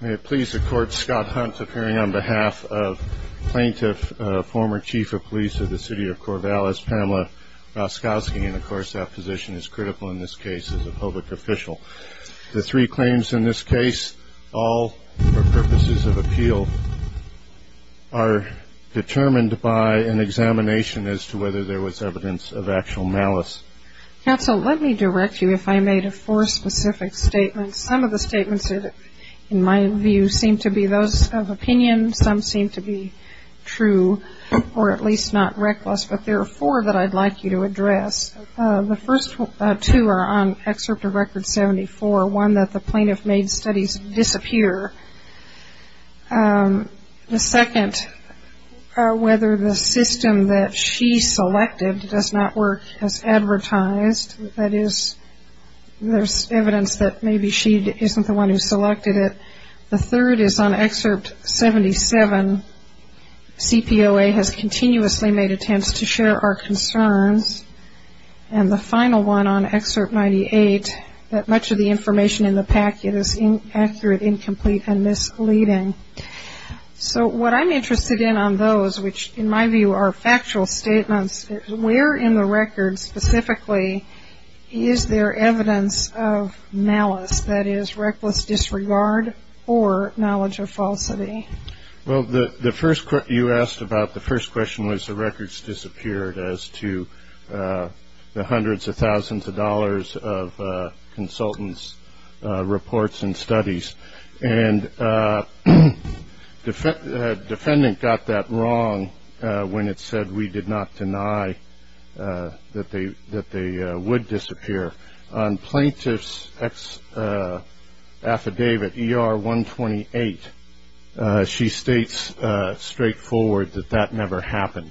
May it please the Court, Scott Hunt appearing on behalf of Plaintiff, former Chief of Police of the City of Corvallis, Pamela Raskowski, and of course that position is critical in this case as a public official. The three claims in this case, all for purposes of appeal, are determined by an examination as to whether there was evidence of actual malice. Counsel, let me direct you if I made a four specific statements. Some of the statements in my view seem to be those of opinion, some seem to be true, or at least not reckless, but there are four that I'd like you to address. The first two are on Excerpt of Record 74, one that the plaintiff made studies disappear. The second, whether the system that she selected does not work as advertised, that is, there's evidence that maybe she isn't the one who selected it. The third is on Excerpt 77, CPOA has continuously made attempts to share our concerns. And the final one on Excerpt 98, that much of the information in the packet is inaccurate, incomplete, and misleading. So what I'm interested in on those, which in my view are factual statements, where in the record specifically is there evidence of malice, that is, reckless disregard or knowledge of falsity? Well, the first question you asked about, the first question was the records disappeared as to the hundreds of thousands of dollars of consultant's reports and studies. And the defendant got that wrong when it said we did not deny that they would disappear. On Plaintiff's affidavit ER 128, she states straightforward that that never happened.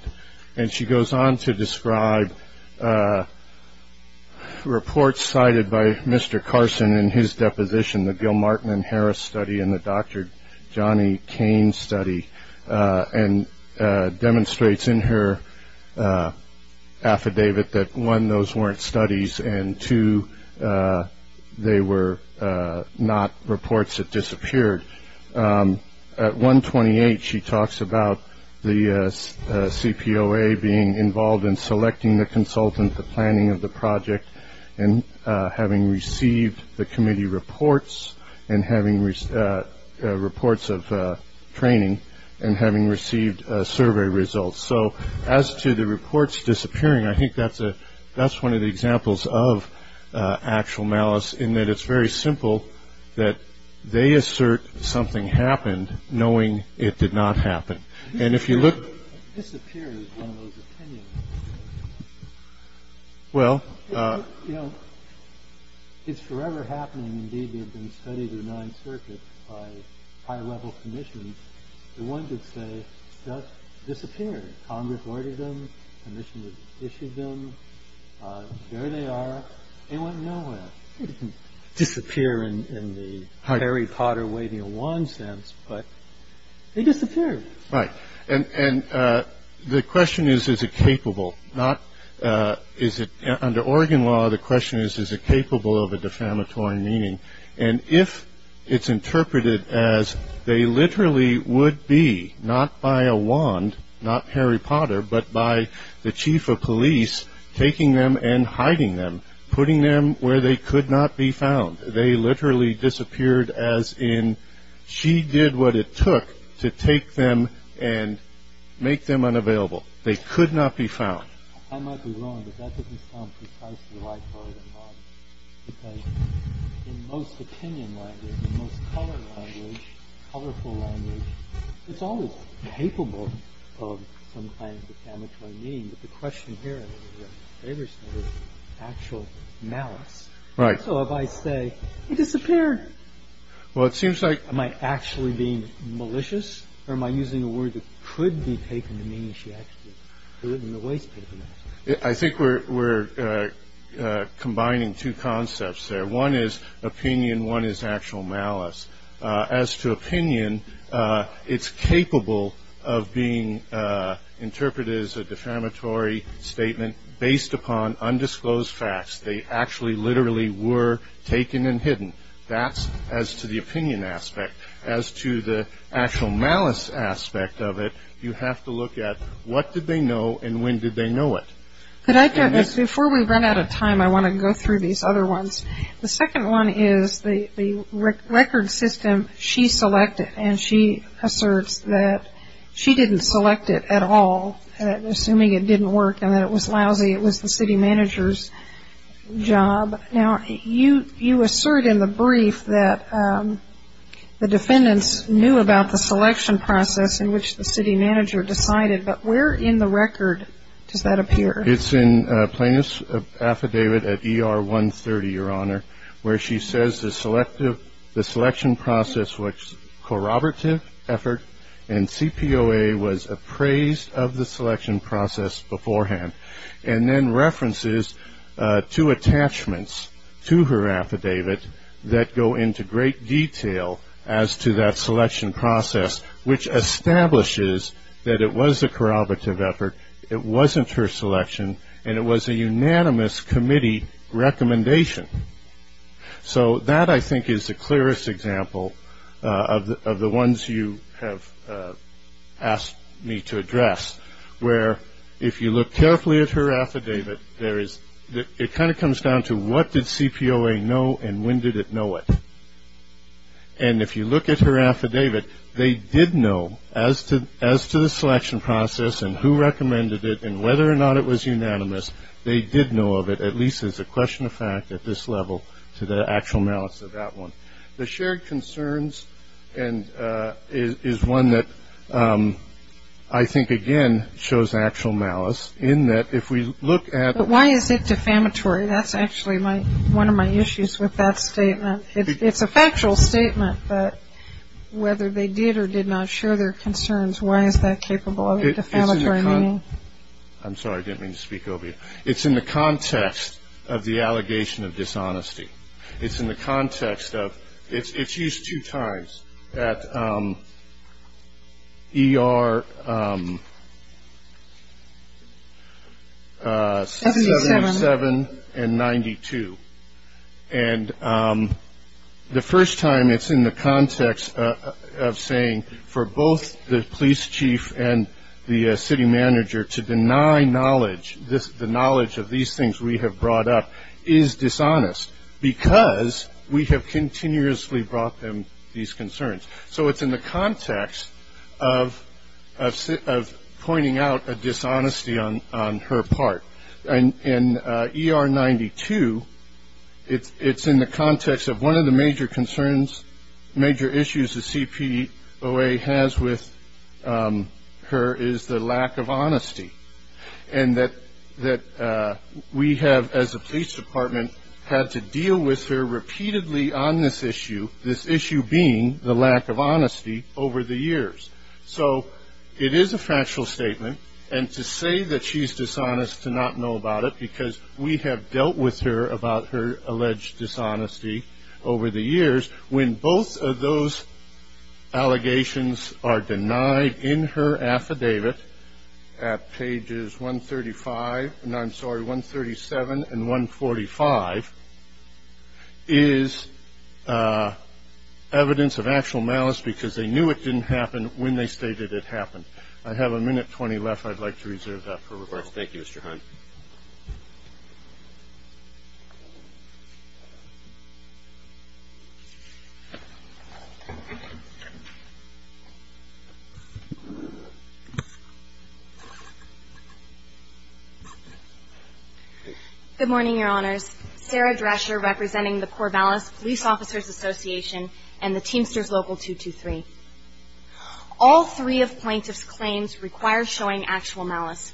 And she goes on to describe reports cited by Mr. Carson in his deposition, the Gilmartin and Harris study and the Dr. Johnny Kane study, and demonstrates in her affidavit that one, those weren't studies, and two, they were not reports that disappeared. At 128, she talks about the CPOA being involved in selecting the consultant, the planning of the project, and having received the committee reports and having reports of training and having received survey results. So as to the reports disappearing, I think that's one of the examples of actual malice in that it's very simple that they assert something happened knowing it did not happen. And if you look- Disappeared is one of those opinions. Well- You know, it's forever happening. Indeed, they've been studied in the Ninth Circuit by high-level commissioners. The one could say stuff disappeared. Congress ordered them, the commissioners issued them, there they are, they went nowhere. They didn't disappear in the Harry Potter waving a wand sense, but they disappeared. Right. And the question is, is it capable? Not is it, under Oregon law, the question is, is it capable of a defamatory meaning? And if it's interpreted as they literally would be, not by a wand, not Harry Potter, but by the chief of police taking them and hiding them, putting them where they could not be found, they literally disappeared as in she did what it took to take them and make them unavailable. They could not be found. I might be wrong, but that doesn't sound precisely like Oregon law. Because in most opinion language, in most color language, colorful language, it's always capable of some kind of defamatory meaning. But the question here, I don't know if you have a favor to say, is actual malice. Right. So if I say, they disappeared. Well, it seems like- Am I actually being malicious? Or am I using a word that could be taken to mean that she actually did it in a wasteful manner? I think we're combining two concepts there. One is opinion. One is actual malice. As to opinion, it's capable of being interpreted as a defamatory statement based upon They actually literally were taken and hidden. That's as to the opinion aspect. As to the actual malice aspect of it, you have to look at what did they know and when did they know it. Before we run out of time, I want to go through these other ones. The second one is the record system she selected and she asserts that she didn't select it at all, assuming it didn't work and that it was lousy. It was the city manager's job. Now, you assert in the brief that the defendants knew about the selection process in which the city manager decided, but where in the record does that appear? It's in plaintiff's affidavit at ER 130, Your Honor, where she says the selection process was corroborative effort and CPOA was appraised of the selection process beforehand. Then references to attachments to her affidavit that go into great detail as to that selection process, which establishes that it was a corroborative effort, it wasn't her selection, and it was a unanimous committee recommendation. That I think is the clearest example of the ones you have asked me to address, where if you look carefully at her affidavit, it kind of comes down to what did CPOA know and when did it know it? If you look at her affidavit, they did know as to the selection process and who recommended it and whether or not it was unanimous, they did know of it, at least as a question of fact at this level to the actual malice of that one. The shared concerns is one that I think again shows actual malice in that if we look at But why is it defamatory? That's actually one of my issues with that statement. It's a factual statement, but whether they did or did not share their concerns, why is that capable of a defamatory meaning? I'm sorry, I didn't mean to speak obviously. It's in the context of the allegation of dishonesty. It's in the context of, it's used two times at ER 77 and 92 and the first time it's in the context of saying for both the police chief and the city manager to deny knowledge, the knowledge of these things we have brought up is dishonest because we have continuously brought them these concerns. So it's in the context of pointing out a dishonesty on her part. In ER 92, it's in the context of one of the major concerns, major issues the CPOA has with her is the lack of honesty and that we have as a police department had to deal with her repeatedly on this issue, this issue being the lack of honesty over the years. So it is a factual statement and to say that she's dishonest to not know about it because we have dealt with her about her alleged dishonesty over the years when both of those allegations are denied in her affidavit at pages 135, I'm sorry, 137 and 145 is evidence of actual malice because they knew it didn't happen when they stated it happened. I have a minute 20 left. I'd like to reserve that for request. Thank you, Mr. Hunt. Good morning, Your Honors. Sarah Drescher representing the Corvallis Police Officers Association and the Teamsters Local 223. All three of plaintiff's claims require showing actual malice.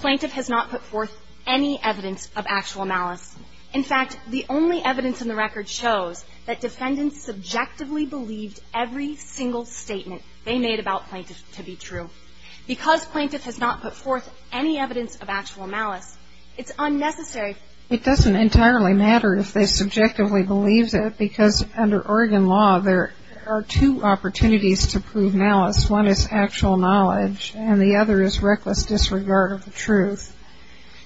Plaintiff has not put forth any evidence of actual malice. In fact, the only evidence in the record shows that defendants subjectively believed every single statement they made about plaintiff to be true. Because plaintiff has not put forth any evidence of actual malice, it's unnecessary. It doesn't entirely matter if they subjectively believe that because under Oregon law, there are two opportunities to prove malice. One is actual knowledge and the other is reckless disregard of the truth.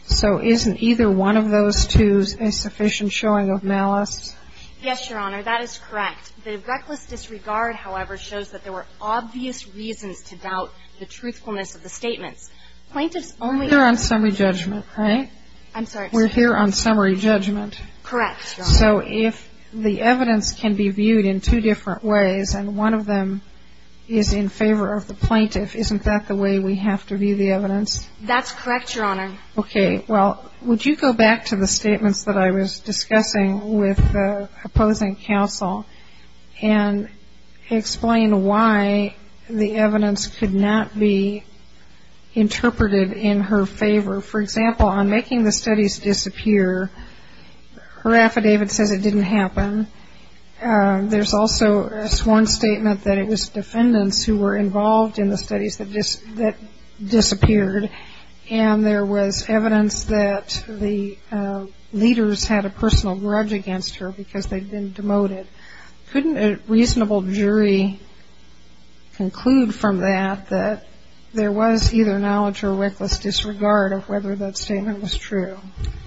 So isn't either one of those two a sufficient showing of malice? Yes, Your Honor. That is correct. The reckless disregard, however, shows that there were obvious reasons to doubt the truthfulness of the statements. Plaintiff's only ---- We're here on summary judgment, right? I'm sorry. We're here on summary judgment. Correct, Your Honor. So if the evidence can be viewed in two different ways and one of them is in favor of the plaintiff, isn't that the way we have to view the evidence? That's correct, Your Honor. Okay. Well, would you go back to the statements that I was discussing with the opposing counsel and explain why the evidence could not be interpreted in her favor? For example, on making the studies disappear, her affidavit says it didn't happen. There's also a sworn statement that it was defendants who were involved in the studies that disappeared and there was evidence that the leaders had a personal grudge against her because they'd been demoted. Couldn't a reasonable jury conclude from that that there was either knowledge or reckless disregard of whether that statement was true?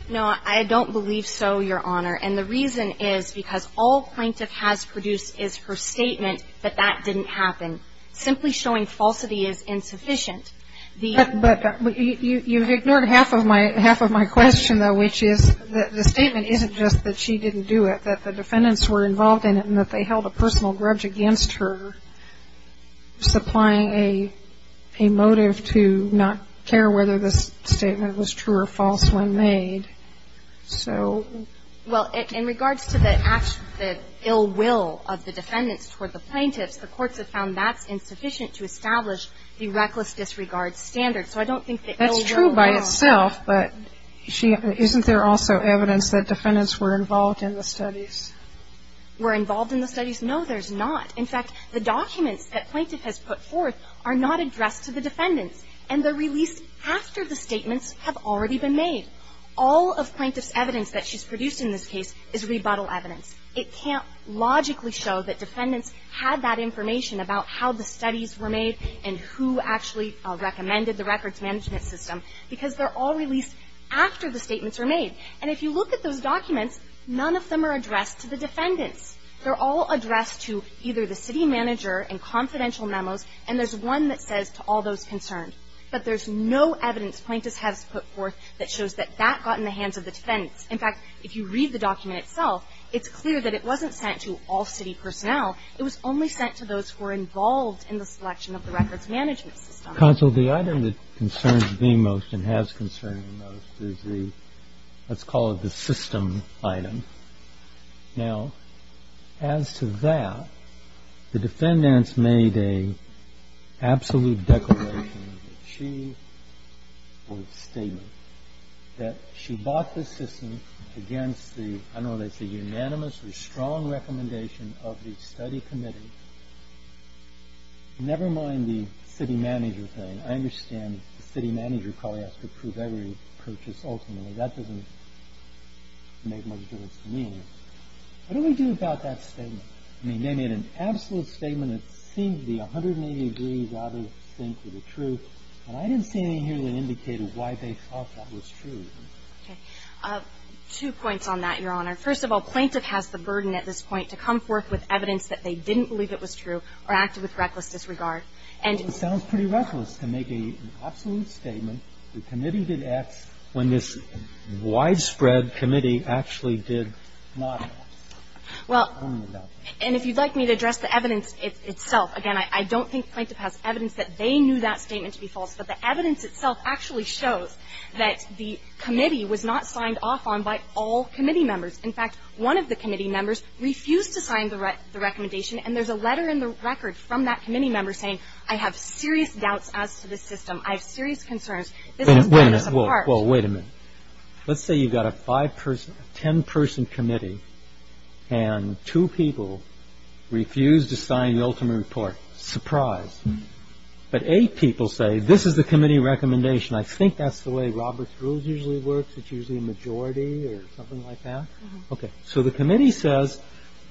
No, I don't believe so, Your Honor. And the reason is because all plaintiff has produced is her statement that that didn't happen. Simply showing falsity is insufficient. But you've ignored half of my question, though, which is that the statement isn't just that she didn't do it, that the defendants were involved in it and that they held a personal grudge against her supplying a motive to not care whether this statement was true or false when made. Well, in regards to the ill will of the defendants toward the plaintiffs, the courts have found that's insufficient to establish the reckless disregard standard. So I don't think the ill will. That's true by itself, but isn't there also evidence that defendants were involved in the studies? Were involved in the studies? No, there's not. In fact, the documents that plaintiff has put forth are not addressed to the defendants and they're released after the statements have already been made. All of plaintiff's evidence that she's produced in this case is rebuttal evidence. It can't logically show that defendants had that information about how the studies were made and who actually recommended the records management system because they're all released after the statements were made. And if you look at those documents, none of them are addressed to the defendants. They're all addressed to either the city manager and confidential memos, and there's one that says to all those concerned. But there's no evidence plaintiff has put forth that shows that that got in the hands of the defendants. In fact, if you read the document itself, it's clear that it wasn't sent to all city personnel. It was only sent to those who were involved in the selection of the records management system. Counsel, the item that concerns me most and has concerned me most is the, let's call it the system item. Now, as to that, the defendants made an absolute declaration. She was stating that she bought the system against the, I don't know what they say, unanimous or strong recommendation of the study committee. Never mind the city manager thing. I understand the city manager probably has to approve every purchase ultimately. That doesn't make much difference to me. What do we do about that statement? I mean, they made an absolute statement. It seemed to be 180 degrees out of sync with the truth. And I didn't see anything here that indicated why they thought that was true. Okay. Two points on that, Your Honor. First of all, plaintiff has the burden at this point to come forth with evidence that they didn't believe it was true or acted with reckless disregard. And it sounds pretty reckless to make an absolute statement. The committee did act when this widespread committee actually did not act. Well, and if you'd like me to address the evidence itself, again, I don't think plaintiff has evidence that they knew that statement to be false. But the evidence itself actually shows that the committee was not signed off on by all committee members. In fact, one of the committee members refused to sign the recommendation. And there's a letter in the record from that committee member saying, I have serious doubts as to this system. I have serious concerns. Wait a minute. Well, wait a minute. Let's say you've got a five-person, ten-person committee and two people refuse to sign the ultimate report. Surprise. But eight people say, this is the committee recommendation. I think that's the way Robert's Rules usually works. It's usually a majority or something like that. Okay. So the committee says,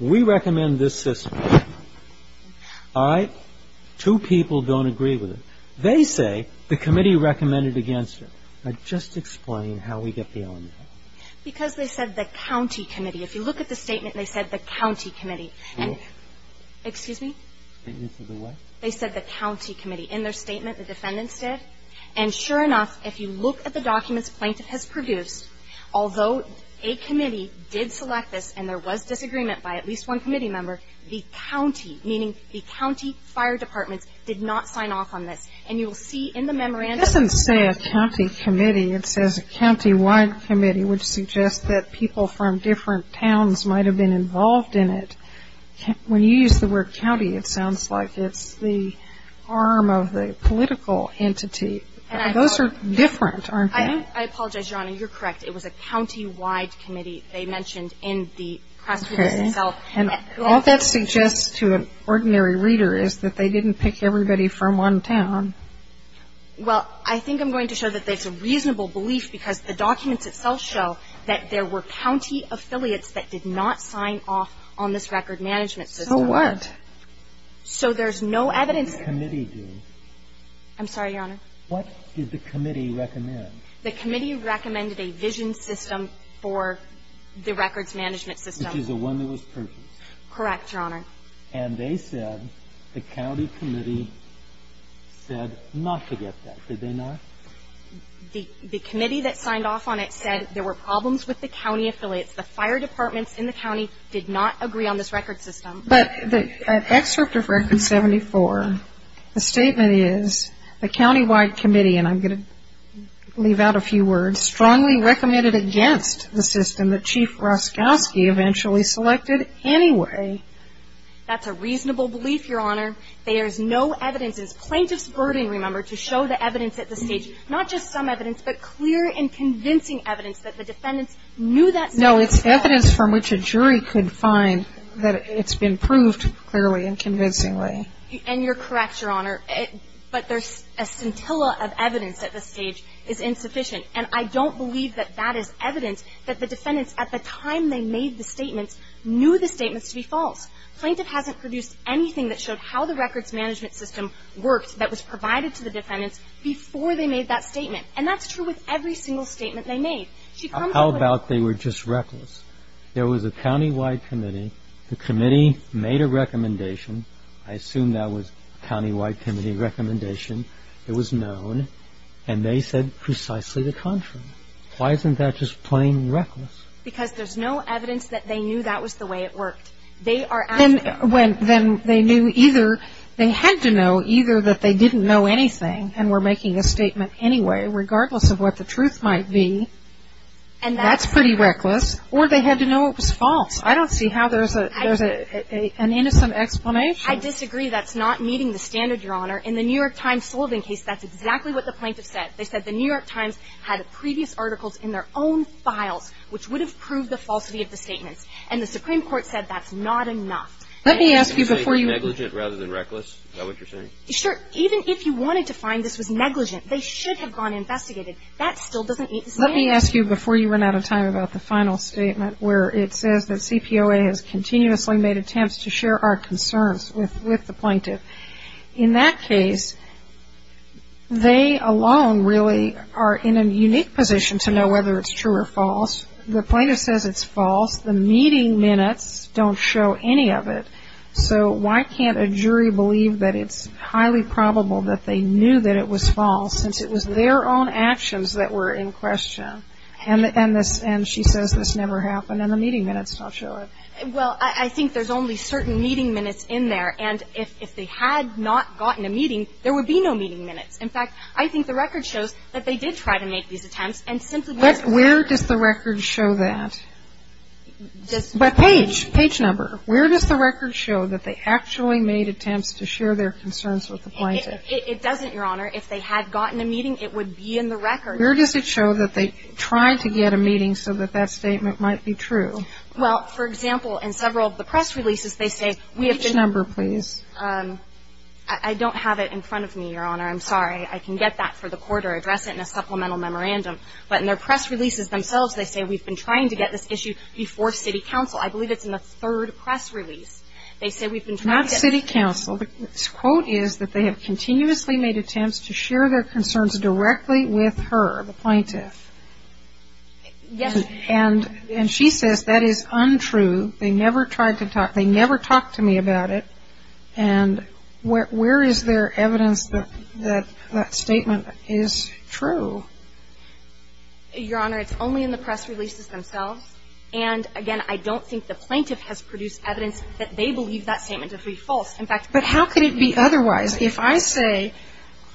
we recommend this system. All right? Two people don't agree with it. They say the committee recommended against it. Now, just explain how we get the element. Because they said the county committee. If you look at the statement, they said the county committee. Excuse me? Statements of the what? They said the county committee. In their statement, the defendants did. And sure enough, if you look at the documents plaintiff has produced, although a committee did select this and there was disagreement by at least one committee member, the county, meaning the county fire departments, did not sign off on this. And you will see in the memorandum. It doesn't say a county committee. It says a county-wide committee, which suggests that people from different towns might have been involved in it. When you use the word county, it sounds like it's the arm of the political Those are different, aren't they? I apologize, Your Honor. You're correct. It was a county-wide committee they mentioned in the press release itself. And all that suggests to an ordinary reader is that they didn't pick everybody from one town. Well, I think I'm going to show that that's a reasonable belief because the documents itself show that there were county affiliates that did not sign off on this record management system. So what? So there's no evidence. What did the committee do? I'm sorry, Your Honor? What did the committee recommend? The committee recommended a vision system for the records management system. Which is the one that was purchased. Correct, Your Honor. And they said, the county committee said not to get that. Did they not? The committee that signed off on it said there were problems with the county affiliates. The fire departments in the county did not agree on this record system. But the excerpt of Record 74, the statement is, the county-wide committee, and I'm going to leave out a few words, strongly recommended against the system that Chief Roszkowski eventually selected anyway. That's a reasonable belief, Your Honor. There's no evidence. It's plaintiff's burden, remember, to show the evidence at the stage. Not just some evidence, but clear and convincing evidence that the defendants knew that. No, it's evidence from which a jury could find that it's been proved clearly and convincingly. And you're correct, Your Honor. But there's a scintilla of evidence at this stage is insufficient. And I don't believe that that is evidence that the defendants, at the time they made the statements, knew the statements to be false. Plaintiff hasn't produced anything that showed how the records management system worked that was provided to the defendants before they made that statement. And that's true with every single statement they made. She comes up with it. How about they were just reckless? There was a county-wide committee. The committee made a recommendation. I assume that was a county-wide committee recommendation. It was known. And they said precisely the contrary. Why isn't that just plain reckless? Because there's no evidence that they knew that was the way it worked. They are asking. Then they knew either they had to know either that they didn't know anything and were making a statement anyway, regardless of what the truth might be. And that's pretty reckless. Or they had to know it was false. I don't see how there's an innocent explanation. I disagree. That's not meeting the standard, Your Honor. In the New York Times Sullivan case, that's exactly what the plaintiff said. They said the New York Times had previous articles in their own files, which would have proved the falsity of the statements. And the Supreme Court said that's not enough. Let me ask you before you. Negligent rather than reckless? Is that what you're saying? Sure. Even if you wanted to find this was negligent, they should have gone and investigated. That still doesn't make sense. Let me ask you before you run out of time about the final statement where it says that CPOA has continuously made attempts to share our concerns with the plaintiff. In that case, they alone really are in a unique position to know whether it's true or false. The plaintiff says it's false. The meeting minutes don't show any of it. So why can't a jury believe that it's highly probable that they knew that it was false, since it was their own actions that were in question? And she says this never happened, and the meeting minutes don't show it. Well, I think there's only certain meeting minutes in there. And if they had not gotten a meeting, there would be no meeting minutes. In fact, I think the record shows that they did try to make these attempts and simply weren't aware. But where does the record show that? Page. Page number. Where does the record show that they actually made attempts to share their concerns with the plaintiff? It doesn't, Your Honor. If they had gotten a meeting, it would be in the record. Where does it show that they tried to get a meeting so that that statement might be true? Well, for example, in several of the press releases, they say we have been. Which number, please? I don't have it in front of me, Your Honor. I'm sorry. I can get that for the court or address it in a supplemental memorandum. But in their press releases themselves, they say we've been trying to get this issue before City Council. I believe it's in the third press release. They say we've been trying to get. Not City Council. The quote is that they have continuously made attempts to share their concerns directly with her, the plaintiff. Yes. And she says that is untrue. They never tried to talk. They never talked to me about it. And where is there evidence that that statement is true? Your Honor, it's only in the press releases themselves. And, again, I don't think the plaintiff has produced evidence that they believe that statement to be false. In fact. But how could it be otherwise? If I say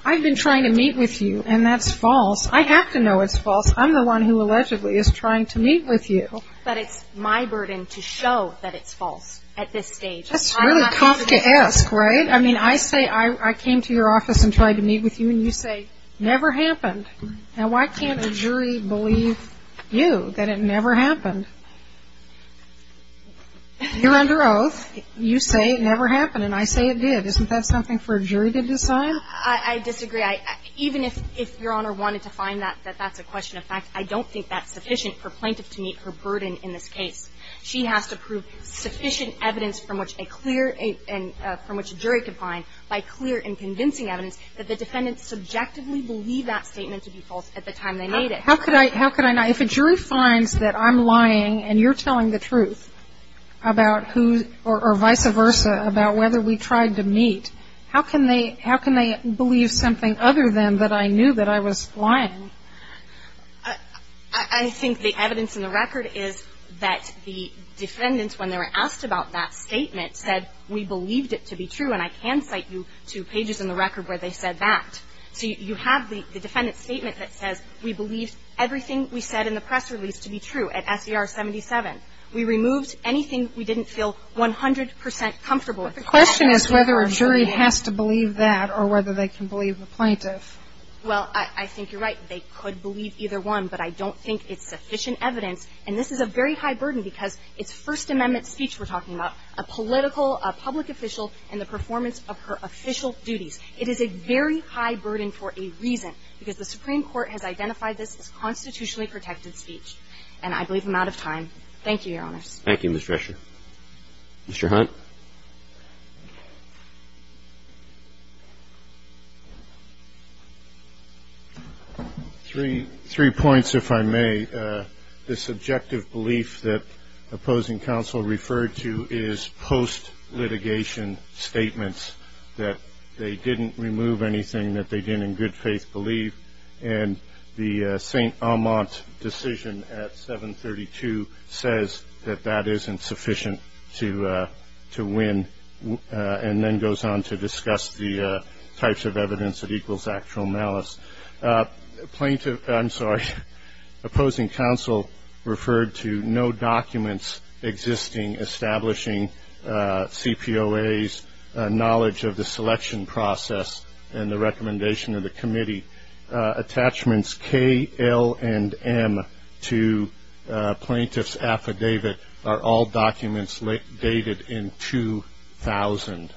I've been trying to meet with you and that's false, I have to know it's false. I'm the one who allegedly is trying to meet with you. But it's my burden to show that it's false at this stage. That's really tough to ask, right? I mean, I say I came to your office and tried to meet with you. And you say never happened. Now, why can't a jury believe you that it never happened? You're under oath. You say it never happened. And I say it did. Isn't that something for a jury to decide? I disagree. Even if your Honor wanted to find that that's a question of fact, I don't think that's sufficient for a plaintiff to meet her burden in this case. She has to prove sufficient evidence from which a clear and from which a jury could find by clear and convincing evidence that the defendant subjectively believed that statement to be false at the time they made it. How could I not? If a jury finds that I'm lying and you're telling the truth about who or vice versa about whether we tried to meet, how can they believe something other than that I knew that I was lying? I think the evidence in the record is that the defendants, when they were asked about that statement, said we believed it to be true. And I can cite you to pages in the record where they said that. So you have the defendant's statement that says we believed everything we said in the press release to be true at SDR 77. We removed anything we didn't feel 100 percent comfortable with. The question is whether a jury has to believe that or whether they can believe the plaintiff. Well, I think you're right. They could believe either one, but I don't think it's sufficient evidence. And this is a very high burden because it's First Amendment speech we're talking about, a political, a public official and the performance of her official duties. It is a very high burden for a reason, because the Supreme Court has identified this as constitutionally protected speech. And I believe I'm out of time. Thank you, Your Honors. Thank you, Ms. Drescher. Mr. Hunt? Three points, if I may. The subjective belief that opposing counsel referred to is post-litigation statements, that they didn't remove anything that they didn't believe, and the St. Amant decision at 732 says that that isn't sufficient to win, and then goes on to discuss the types of evidence that equals actual malice. Plaintiff, I'm sorry, opposing counsel referred to no documents existing establishing CPOA's knowledge of the selection process and the recommendation of the committee. Attachments K, L, and M to plaintiff's affidavit are all documents dated in 2000,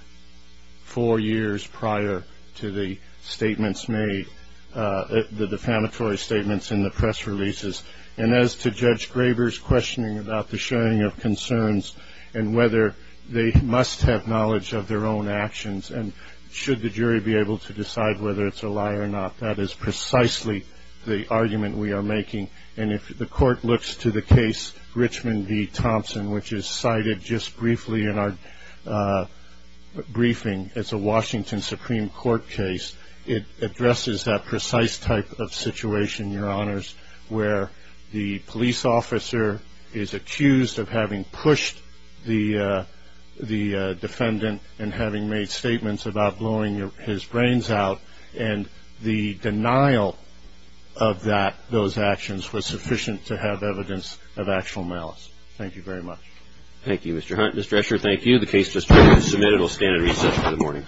four years prior to the statements made, the defamatory statements in the press releases. And as to Judge Graber's questioning about the sharing of concerns and whether they must have knowledge of their own actions, and should the jury be able to decide whether it's a lie or not, that is precisely the argument we are making. And if the court looks to the case Richmond v. Thompson, which is cited just briefly in our briefing, it's a Washington Supreme Court case, it addresses that precise type of situation, Your Honors, where the police officer is accused of having pushed the defendant and having made statements about blowing his brains out, and the denial of those actions was sufficient to have evidence of actual malice. Thank you very much. Thank you, Mr. Hunt. Mr. Escher, thank you. The case has been submitted. We'll stand at recess for the morning.